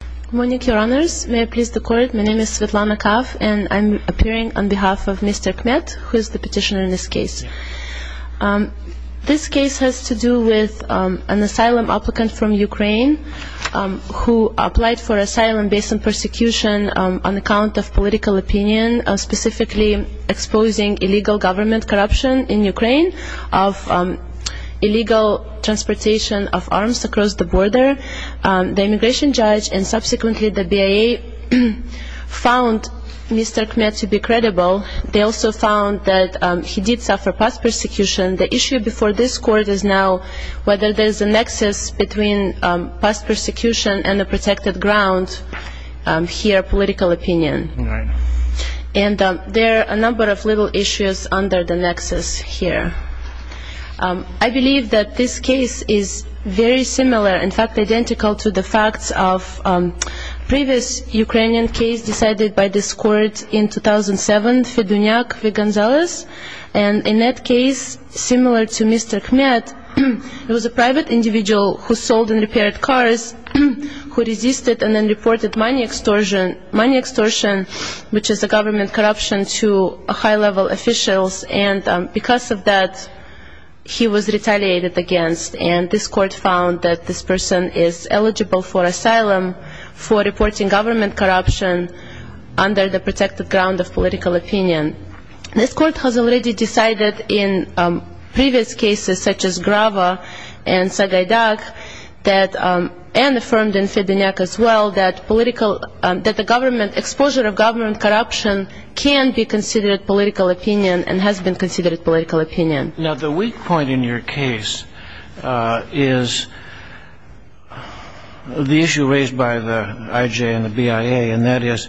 Good morning, your honors. May I please the court? My name is Svetlana Kav, and I'm appearing on behalf of Mr. Kmet, who is the petitioner in this case. This case has to do with an asylum applicant from Ukraine who applied for asylum based on persecution on account of political opinion, specifically exposing illegal government corruption in Ukraine of illegal transportation of arms across the border. The immigration judge and subsequently the BIA found Mr. Kmet to be credible. They also found that he did suffer past persecution. The issue before this court is now whether there's a nexus between past persecution and a protected ground here, political opinion. And there are a number of legal issues under the nexus here. I believe that this case is very similar, in fact, identical to the facts of previous Ukrainian case decided by this court in 2007, Fedunyak v. Gonzalez. And in that case, similar to Mr. Kmet, it was a private individual who sold and repaired cars, who resisted and then reported money extortion, which is a government corruption to high-level officials. And because of that, he was retaliated against. And this court found that this person is eligible for asylum for reporting government corruption under the protected ground of political opinion. This court has already decided in previous cases, such as Grava and Sagaidak, and affirmed in Fedunyak as well, that the government, exposure of government corruption can be considered political opinion and has been considered political opinion. Now, the weak point in your case is the issue raised by the IJ and the BIA, and that is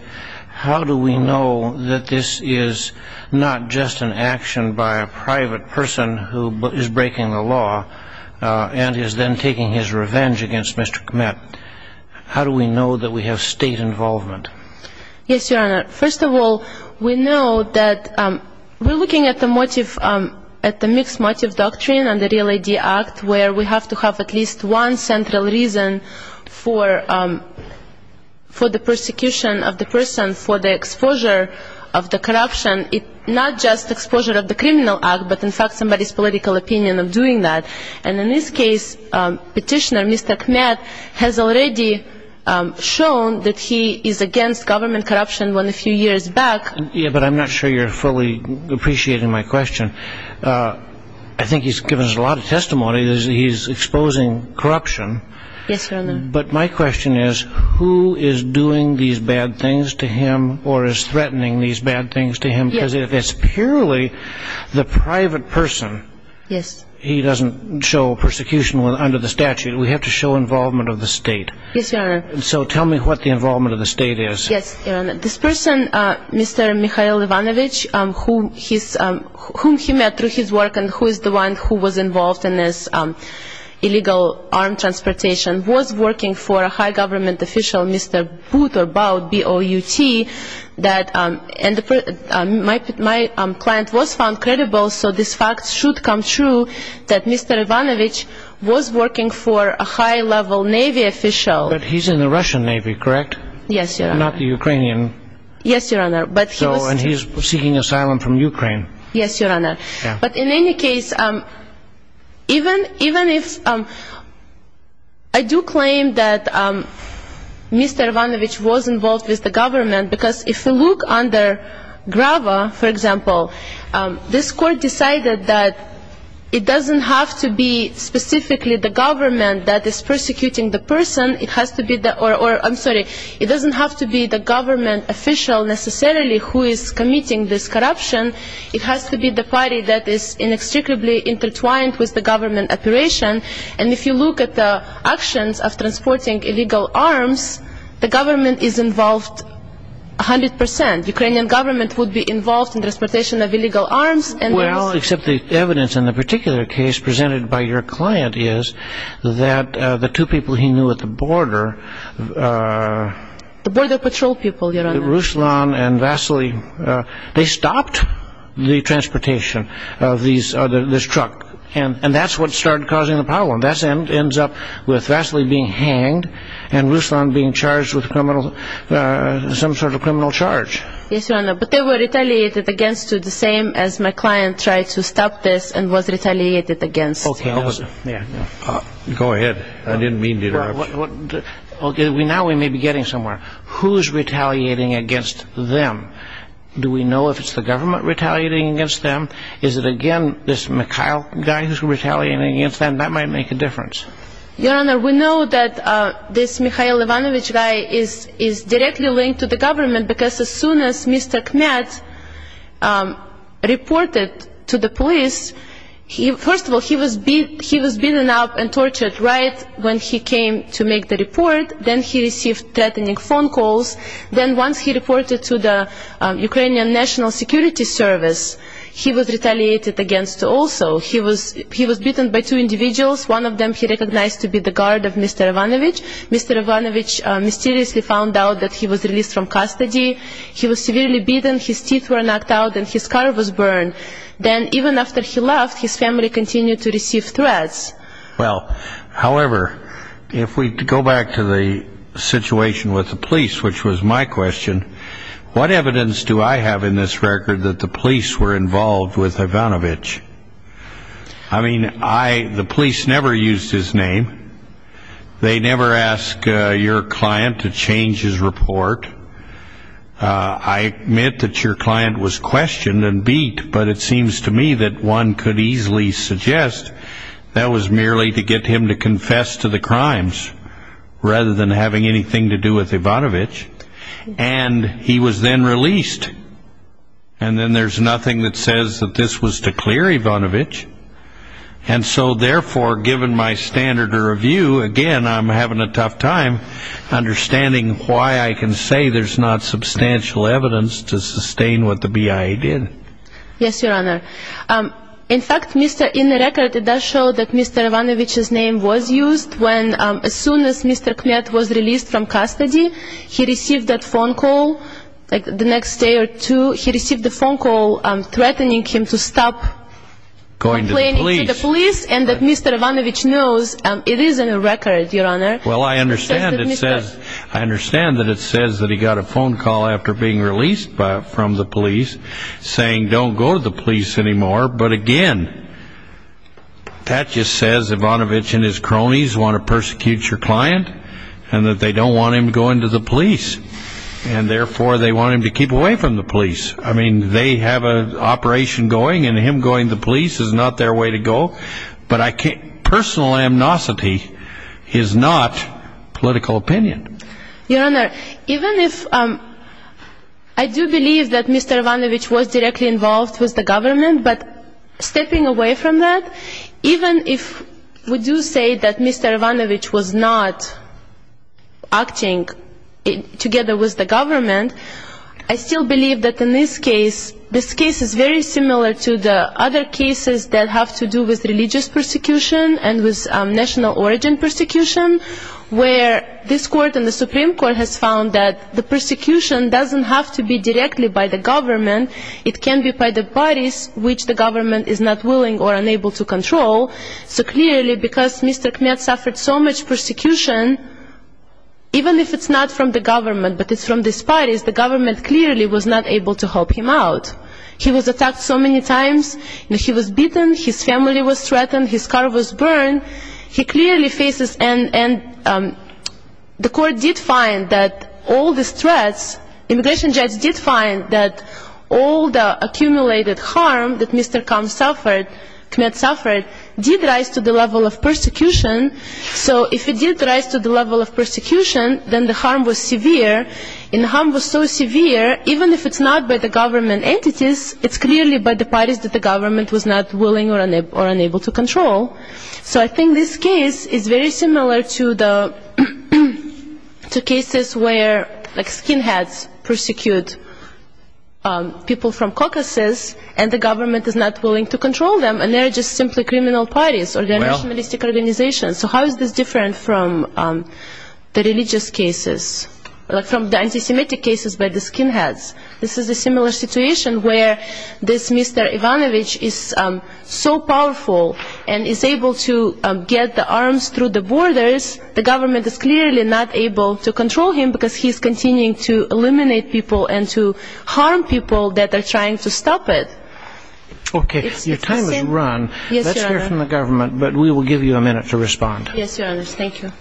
how do we know that this is not just an action by a private person who is breaking the law and is then taking his revenge against Mr. Kmet? How do we know that we have state involvement? Yes, Your Honor. First of all, we know that we're looking at the motive, at the mixed motive doctrine under the Real ID Act, where we have to have at least one central reason for the persecution of the person, for the exposure of the corruption, not just exposure of the criminal act, but in fact somebody's political opinion of doing that. And in this case, petitioner Mr. Kmet has already shown that he is against government corruption when a few years back. Yeah, but I'm not sure you're fully appreciating my question. I think he's given us a lot of testimony. He's exposing corruption. Yes, Your Honor. But my question is, who is doing these bad things to him or is threatening these bad things to him? Because if it's purely the private person, he doesn't show persecution under the statute. We have to show involvement of the state. Yes, Your Honor. So tell me what the involvement of the state is. Yes, Your Honor. This person, Mr. Mikhail Ivanovich, whom he met through his work and who is the one who was involved in this illegal armed transportation, was working for a high government official, Mr. Bout, B-O-U-T. My client was found credible, so this fact should come true that Mr. Ivanovich was working for a high level Navy official. But he's in the Russian Navy, correct? Yes, Your Honor. Not the Ukrainian. Yes, Your Honor. And he's seeking asylum from Ukraine. Yes, Your Honor. Yeah. Even if I do claim that Mr. Ivanovich was involved with the government, because if you look under GRAVA, for example, this court decided that it doesn't have to be specifically the government that is persecuting the person. It has to be the – or, I'm sorry, it doesn't have to be the government official necessarily who is committing this corruption. It has to be the party that is inextricably intertwined with the government operation. And if you look at the actions of transporting illegal arms, the government is involved 100 percent. The Ukrainian government would be involved in the transportation of illegal arms. Well, except the evidence in the particular case presented by your client is that the two people he knew at the border – The border patrol people, Your Honor. Ruslan and Vasily, they stopped the transportation of this truck. And that's what started causing the problem. That ends up with Vasily being hanged and Ruslan being charged with criminal – some sort of criminal charge. Yes, Your Honor. But they were retaliated against to the same as my client tried to stop this and was retaliated against. Go ahead. I didn't mean to interrupt. Okay, now we may be getting somewhere. Who's retaliating against them? Do we know if it's the government retaliating against them? Is it, again, this Mikhail guy who's retaliating against them? That might make a difference. Your Honor, we know that this Mikhail Ivanovich guy is directly linked to the government because as soon as Mr. Kmet reported to the police, first of all, he was beaten up and tortured right when he came to make the report. Then he received threatening phone calls. Then once he reported to the Ukrainian National Security Service, he was retaliated against also. He was beaten by two individuals. One of them he recognized to be the guard of Mr. Ivanovich. Mr. Ivanovich mysteriously found out that he was released from custody. He was severely beaten. His teeth were knocked out and his car was burned. Then even after he left, his family continued to receive threats. Well, however, if we go back to the situation with the police, which was my question, what evidence do I have in this record that the police were involved with Ivanovich? I mean, the police never used his name. They never asked your client to change his report. I admit that your client was questioned and beat, but it seems to me that one could easily suggest that was merely to get him to confess to the crimes rather than having anything to do with Ivanovich. And he was then released. And then there's nothing that says that this was to clear Ivanovich. And so, therefore, given my standard of review, again, I'm having a tough time understanding why I can say there's not substantial evidence to sustain what the BIA did. Yes, Your Honor. In fact, in the record it does show that Mr. Ivanovich's name was used when, as soon as Mr. Kmet was released from custody, he received that phone call the next day or two. He received the phone call threatening him to stop playing into the police. And that Mr. Ivanovich knows it is in the record, Your Honor. Well, I understand that it says that he got a phone call after being released from the police saying don't go to the police anymore. But, again, that just says Ivanovich and his cronies want to persecute your client and, therefore, they want him to keep away from the police. I mean, they have an operation going and him going to the police is not their way to go. But personal amnesty is not political opinion. Your Honor, even if I do believe that Mr. Ivanovich was directly involved with the government, but stepping away from that, even if we do say that Mr. Ivanovich was not acting together with the government, I still believe that in this case, this case is very similar to the other cases that have to do with religious persecution and with national origin persecution, where this Court and the Supreme Court has found that the persecution doesn't have to be directly by the government. It can be by the bodies which the government is not willing or unable to control. So, clearly, because Mr. Kmet suffered so much persecution, even if it's not from the government, but it's from these bodies, the government clearly was not able to help him out. He was attacked so many times. He was beaten. His family was threatened. His car was burned. He clearly faces, and the Court did find that all these threats, immigration judge did find that all the accumulated harm that Mr. Kmet suffered did rise to the level of persecution. So if it did rise to the level of persecution, then the harm was severe. And the harm was so severe, even if it's not by the government entities, it's clearly by the bodies that the government was not willing or unable to control. So I think this case is very similar to the cases where skinheads persecute people from caucuses and the government is not willing to control them, and they're just simply criminal parties, or they're nationalistic organizations. So how is this different from the religious cases, from the anti-Semitic cases by the skinheads? This is a similar situation where this Mr. Ivanovich is so powerful and is able to get the arms through the borders, the government is clearly not able to control him because he's continuing to eliminate people and to harm people that are trying to stop it. Okay. Your time has run. Let's hear from the government, but we will give you a minute to respond. Yes, Your Honor. Thank you.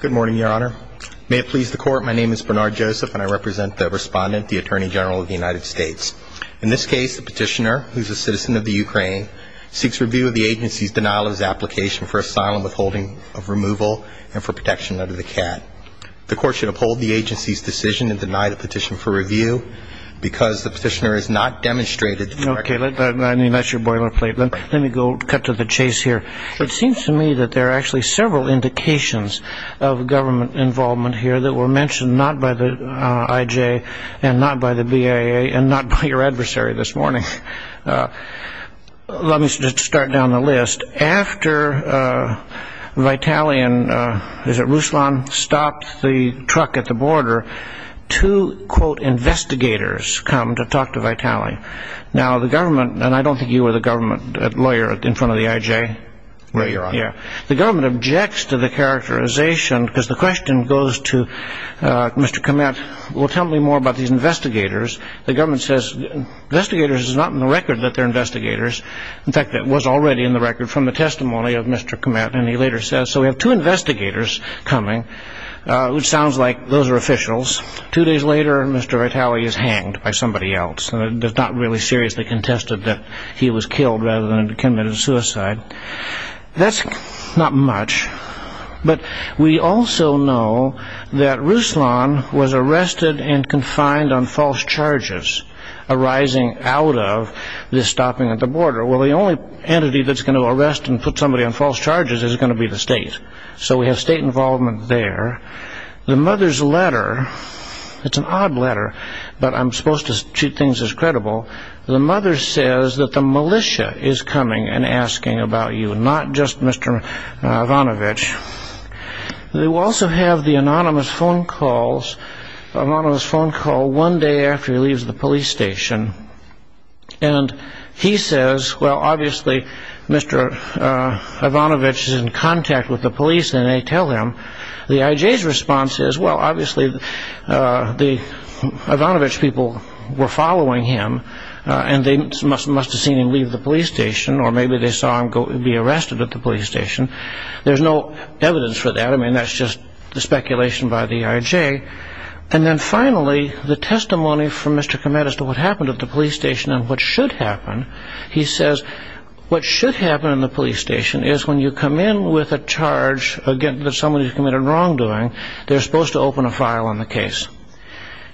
Good morning, Your Honor. May it please the Court, my name is Bernard Joseph, and I represent the Respondent, the Attorney General of the United States. In this case, the petitioner, who is a citizen of the Ukraine, seeks review of the agency's denial of his application for asylum withholding of removal and for protection under the CAT. The Court should uphold the agency's decision and deny the petition for review because the petitioner is a citizen of the Ukraine. Okay. I mean, that's your boilerplate. Let me go cut to the chase here. It seems to me that there are actually several indications of government involvement here that were mentioned not by the IJ and not by the BIA and not by your adversary this morning. Let me just start down the list. Just after Vitaly and Ruslan stopped the truck at the border, two, quote, investigators come to talk to Vitaly. Now, the government, and I don't think you were the government lawyer in front of the IJ. No, Your Honor. Yeah. The government objects to the characterization because the question goes to Mr. Komet, well, tell me more about these investigators. The government says investigators is not in the record that they're investigators. In fact, it was already in the record from the testimony of Mr. Komet, and he later says, so we have two investigators coming, which sounds like those are officials. Two days later, Mr. Vitaly is hanged by somebody else. It is not really seriously contested that he was killed rather than committed suicide. That's not much, but we also know that Ruslan was arrested and confined on false charges arising out of this stopping at the border. Well, the only entity that's going to arrest and put somebody on false charges is going to be the state. So we have state involvement there. The mother's letter, it's an odd letter, but I'm supposed to treat things as credible. The mother says that the militia is coming and asking about you, not just Mr. Ivanovich. They will also have the anonymous phone call one day after he leaves the police station, and he says, well, obviously, Mr. Ivanovich is in contact with the police, and they tell him. The IJ's response is, well, obviously, the Ivanovich people were following him, and they must have seen him leave the police station, or maybe they saw him be arrested at the police station. There's no evidence for that. I mean, that's just the speculation by the IJ. And then finally, the testimony from Mr. Kemet as to what happened at the police station and what should happen, he says what should happen in the police station is when you come in with a charge against somebody who's committed wrongdoing, they're supposed to open a file on the case.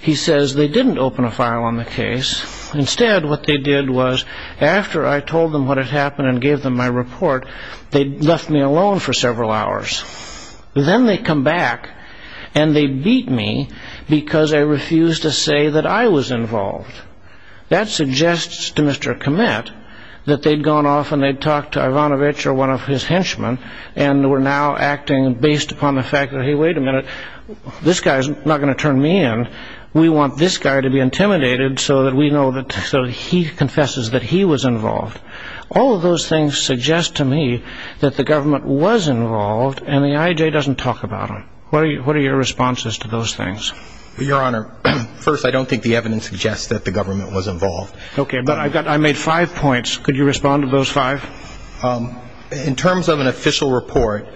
He says they didn't open a file on the case. Instead, what they did was after I told them what had happened and gave them my report, they left me alone for several hours. Then they come back, and they beat me because I refused to say that I was involved. That suggests to Mr. Kemet that they'd gone off and they'd talked to Ivanovich or one of his henchmen and were now acting based upon the fact that, hey, wait a minute, this guy's not going to turn me in. We want this guy to be intimidated so that we know that he confesses that he was involved. All of those things suggest to me that the government was involved, and the IJ doesn't talk about them. What are your responses to those things? Your Honor, first, I don't think the evidence suggests that the government was involved. Okay, but I made five points. Could you respond to those five? In terms of an official report,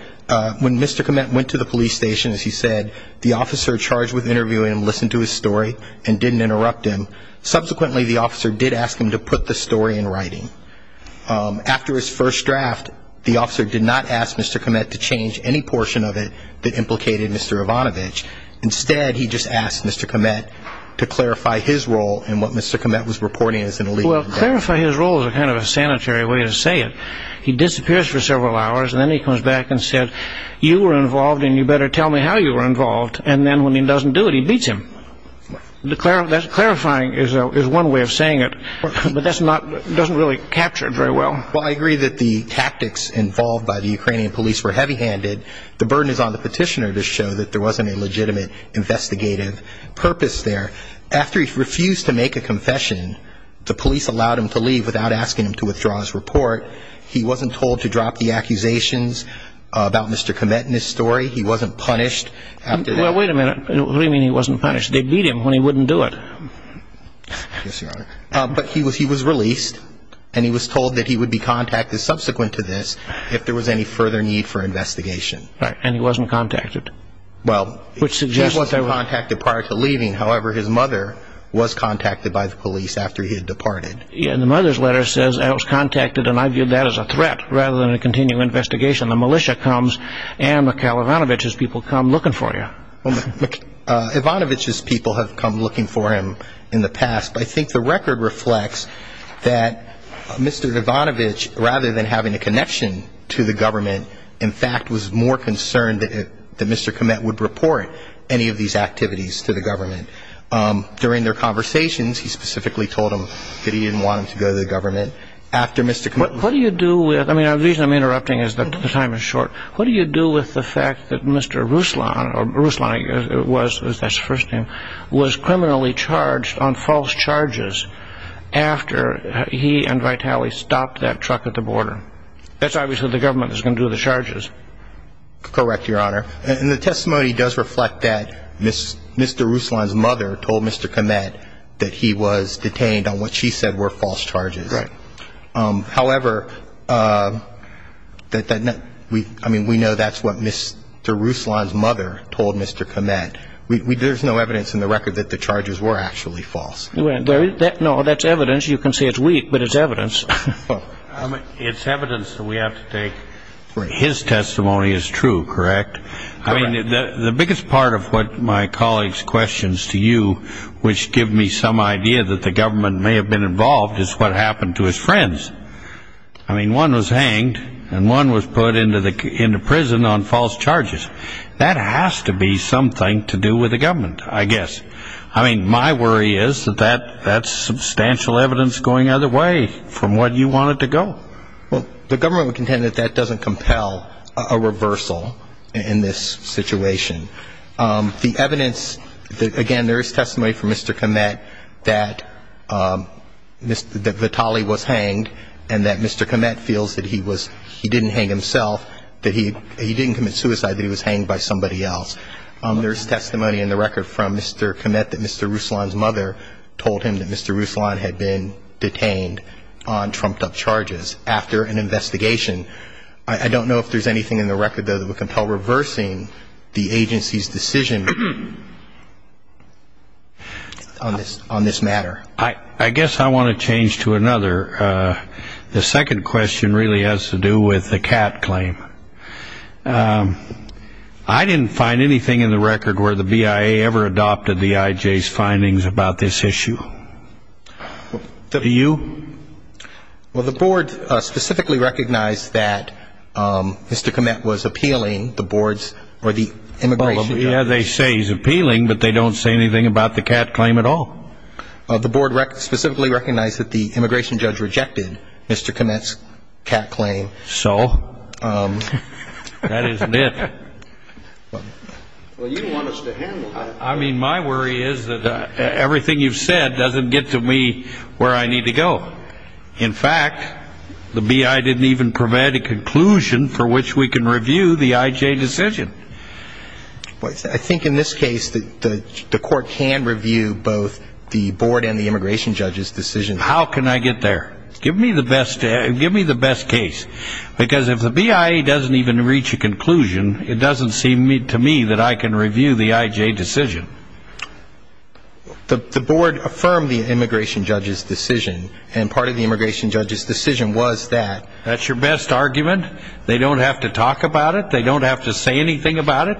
when Mr. Kemet went to the police station, as he said, the officer charged with interviewing him listened to his story and didn't interrupt him. Subsequently, the officer did ask him to put the story in writing. After his first draft, the officer did not ask Mr. Kemet to change any portion of it that implicated Mr. Ivanovich. Instead, he just asked Mr. Kemet to clarify his role in what Mr. Kemet was reporting as an illegal act. Well, clarify his role is kind of a sanitary way to say it. He disappears for several hours, and then he comes back and says, you were involved, and you better tell me how you were involved. And then when he doesn't do it, he beats him. Clarifying is one way of saying it, but that doesn't really capture it very well. Well, I agree that the tactics involved by the Ukrainian police were heavy-handed. The burden is on the petitioner to show that there wasn't a legitimate investigative purpose there. After he refused to make a confession, the police allowed him to leave without asking him to withdraw his report. He wasn't told to drop the accusations about Mr. Kemet in his story. He wasn't punished after that. Well, wait a minute. What do you mean he wasn't punished? They beat him when he wouldn't do it. Yes, Your Honor. But he was released, and he was told that he would be contacted subsequent to this if there was any further need for investigation. Right, and he wasn't contacted. Well, he was contacted prior to leaving. However, his mother was contacted by the police after he had departed. Yeah, and the mother's letter says, I was contacted, and I viewed that as a threat rather than a continued investigation. The militia comes, and Mikhail Ivanovich's people come looking for you. Ivanovich's people have come looking for him in the past, but I think the record reflects that Mr. Ivanovich, rather than having a connection to the government, in fact was more concerned that Mr. Kemet would report any of these activities to the government. During their conversations, he specifically told them that he didn't want him to go to the government. After Mr. Kemet was released. What do you do with the fact that Mr. Ruslan, or Ruslan, that's his first name, was criminally charged on false charges after he and Vitaly stopped that truck at the border? That's obviously what the government is going to do with the charges. Correct, Your Honor. And the testimony does reflect that Mr. Ruslan's mother told Mr. Kemet that he was detained on what she said were false charges. Right. However, I mean, we know that's what Mr. Ruslan's mother told Mr. Kemet. There's no evidence in the record that the charges were actually false. No, that's evidence. You can say it's weak, but it's evidence. It's evidence that we have to take. His testimony is true, correct? I mean, the biggest part of what my colleague's question is to you, which gives me some idea that the government may have been involved, is what happened to his friends. I mean, one was hanged and one was put into prison on false charges. That has to be something to do with the government, I guess. I mean, my worry is that that's substantial evidence going either way from what you want it to go. Well, the government would contend that that doesn't compel a reversal in this situation. The evidence, again, there is testimony from Mr. Kemet that Vitali was hanged and that Mr. Kemet feels that he was he didn't hang himself, that he didn't commit suicide, that he was hanged by somebody else. There's testimony in the record from Mr. Kemet that Mr. Ruslan's mother told him that Mr. Ruslan had been detained on trumped-up charges after an investigation. I don't know if there's anything in the record, though, that would compel reversing the agency's decision on this matter. I guess I want to change to another. The second question really has to do with the CAT claim. I didn't find anything in the record where the BIA ever adopted the IJ's findings about this issue. Do you? Well, the board specifically recognized that Mr. Kemet was appealing the board's or the immigration judge's. Yeah, they say he's appealing, but they don't say anything about the CAT claim at all. The board specifically recognized that the immigration judge rejected Mr. Kemet's CAT claim. So? That is it. Well, you don't want us to handle that. Well, I mean, my worry is that everything you've said doesn't get to me where I need to go. In fact, the BIA didn't even provide a conclusion for which we can review the IJ decision. I think in this case the court can review both the board and the immigration judge's decision. How can I get there? Give me the best case. Because if the BIA doesn't even reach a conclusion, it doesn't seem to me that I can review the IJ decision. The board affirmed the immigration judge's decision, and part of the immigration judge's decision was that. That's your best argument? They don't have to talk about it? They don't have to say anything about it?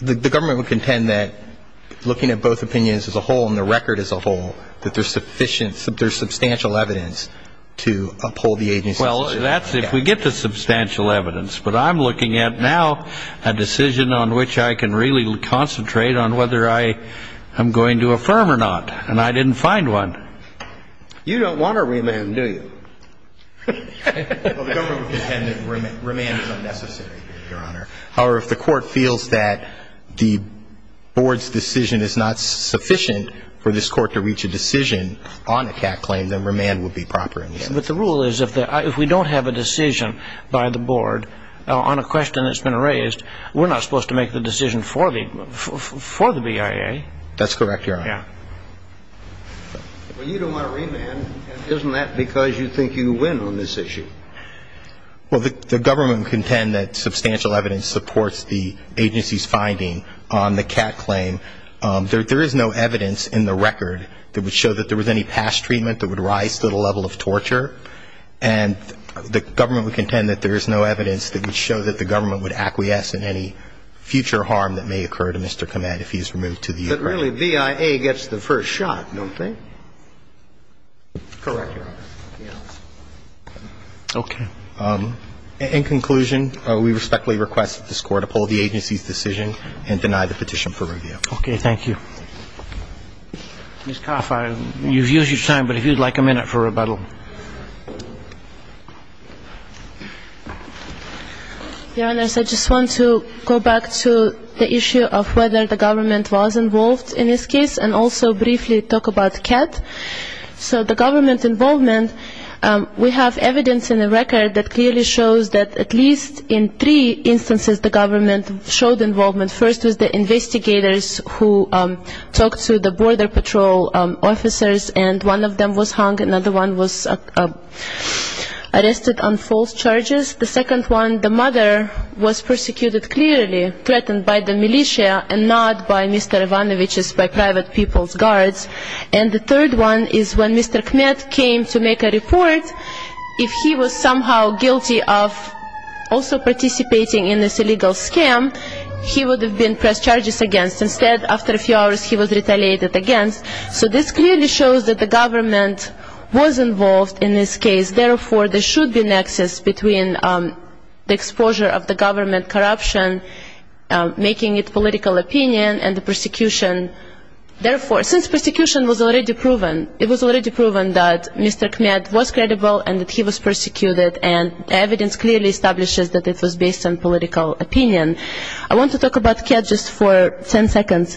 The government would contend that looking at both opinions as a whole and the record as a whole, there's substantial evidence to uphold the agency's decision. Well, that's if we get the substantial evidence. But I'm looking at now a decision on which I can really concentrate on whether I am going to affirm or not, and I didn't find one. You don't want a remand, do you? Well, the government would contend that remand is unnecessary, Your Honor. However, if the court feels that the board's decision is not sufficient for this court to reach a decision on a CAC claim, then remand would be proper. But the rule is if we don't have a decision by the board on a question that's been raised, we're not supposed to make the decision for the BIA. That's correct, Your Honor. Well, you don't want a remand. Isn't that because you think you win on this issue? Well, the government would contend that substantial evidence supports the agency's finding on the CAC claim. There is no evidence in the record that would show that there was any past treatment that would rise to the level of torture. And the government would contend that there is no evidence that would show that the government would acquiesce in any future harm that may occur to Mr. Komet if he's removed to the U.S. But really, BIA gets the first shot, don't they? Correct, Your Honor. Okay. In conclusion, we respectfully request that this Court uphold the agency's decision and deny the petition for review. Okay. Thank you. Ms. Koff, you've used your time, but if you'd like a minute for rebuttal. Your Honor, I just want to go back to the issue of whether the government was involved in this case and also briefly talk about CAT. So the government involvement, we have evidence in the record that clearly shows that at least in three instances the government showed involvement. First was the investigators who talked to the border patrol officers, and one of them was hung, another one was arrested on false charges. The second one, the mother was persecuted clearly, threatened by the militia and not by Mr. Ivanovich's private people's guards. And the third one is when Mr. Komet came to make a report, if he was somehow guilty of also participating in this illegal scam, he would have been pressed charges against. Instead, after a few hours, he was retaliated against. So this clearly shows that the government was involved in this case. Therefore, there should be a nexus between the exposure of the government corruption, making it political opinion, and the persecution. Therefore, since persecution was already proven, it was already proven that Mr. Komet was credible and that he was persecuted, and evidence clearly establishes that it was based on political opinion. I want to talk about CAT just for ten seconds.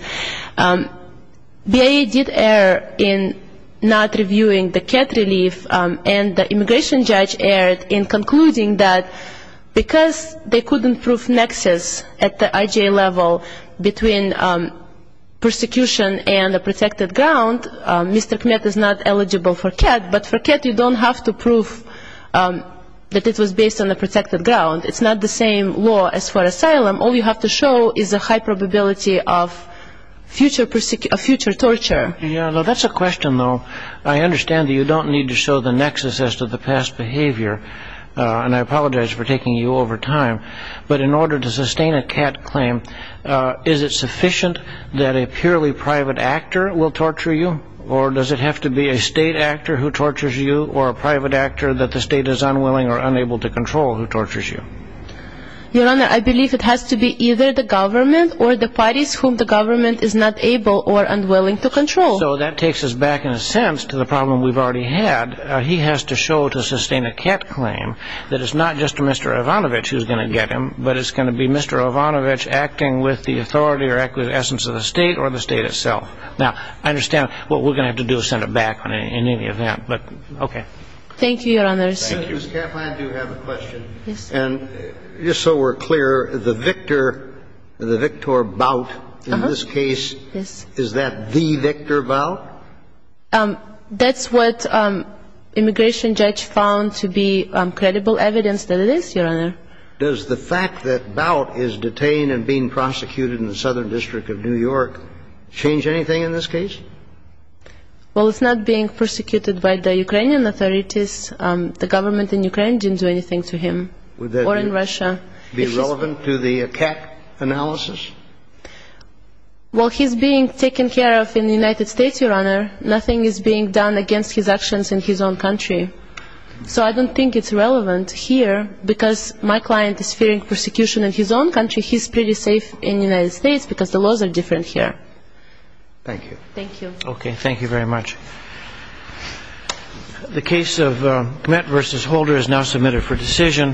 BIA did err in not reviewing the CAT relief, and the immigration judge erred in concluding that because they couldn't prove nexus at the IGA level between persecution and a protected ground, Mr. Komet is not eligible for CAT. But for CAT, you don't have to prove that it was based on a protected ground. It's not the same law as for asylum. All you have to show is a high probability of future torture. That's a question, though. I understand that you don't need to show the nexus as to the past behavior, and I apologize for taking you over time. But in order to sustain a CAT claim, is it sufficient that a purely private actor will torture you, or does it have to be a state actor who tortures you, or a private actor that the state is unwilling or unable to control who tortures you? Your Honor, I believe it has to be either the government or the parties whom the government is not able or unwilling to control. So that takes us back, in a sense, to the problem we've already had. He has to show to sustain a CAT claim that it's not just Mr. Ivanovich who's going to get him, but it's going to be Mr. Ivanovich acting with the authority or essence of the state or the state itself. Now, I understand what we're going to have to do is send it back in any event, but okay. Thank you, Your Honors. Ms. Kaplan, I do have a question. And just so we're clear, the victor, the victor bout in this case, is that the victor bout? That's what immigration judge found to be credible evidence that it is, Your Honor. Does the fact that bout is detained and being prosecuted in the Southern District of New York change anything in this case? Well, it's not being prosecuted by the Ukrainian authorities. The government in Ukraine didn't do anything to him or in Russia. Would that be relevant to the CAT analysis? Well, he's being taken care of in the United States, Your Honor. Nothing is being done against his actions in his own country. So I don't think it's relevant here because my client is fearing persecution in his own country. He's pretty safe in the United States because the laws are different here. Thank you. Thank you. Okay. Thank you very much. The case of Mett v. Holder is now submitted for decision.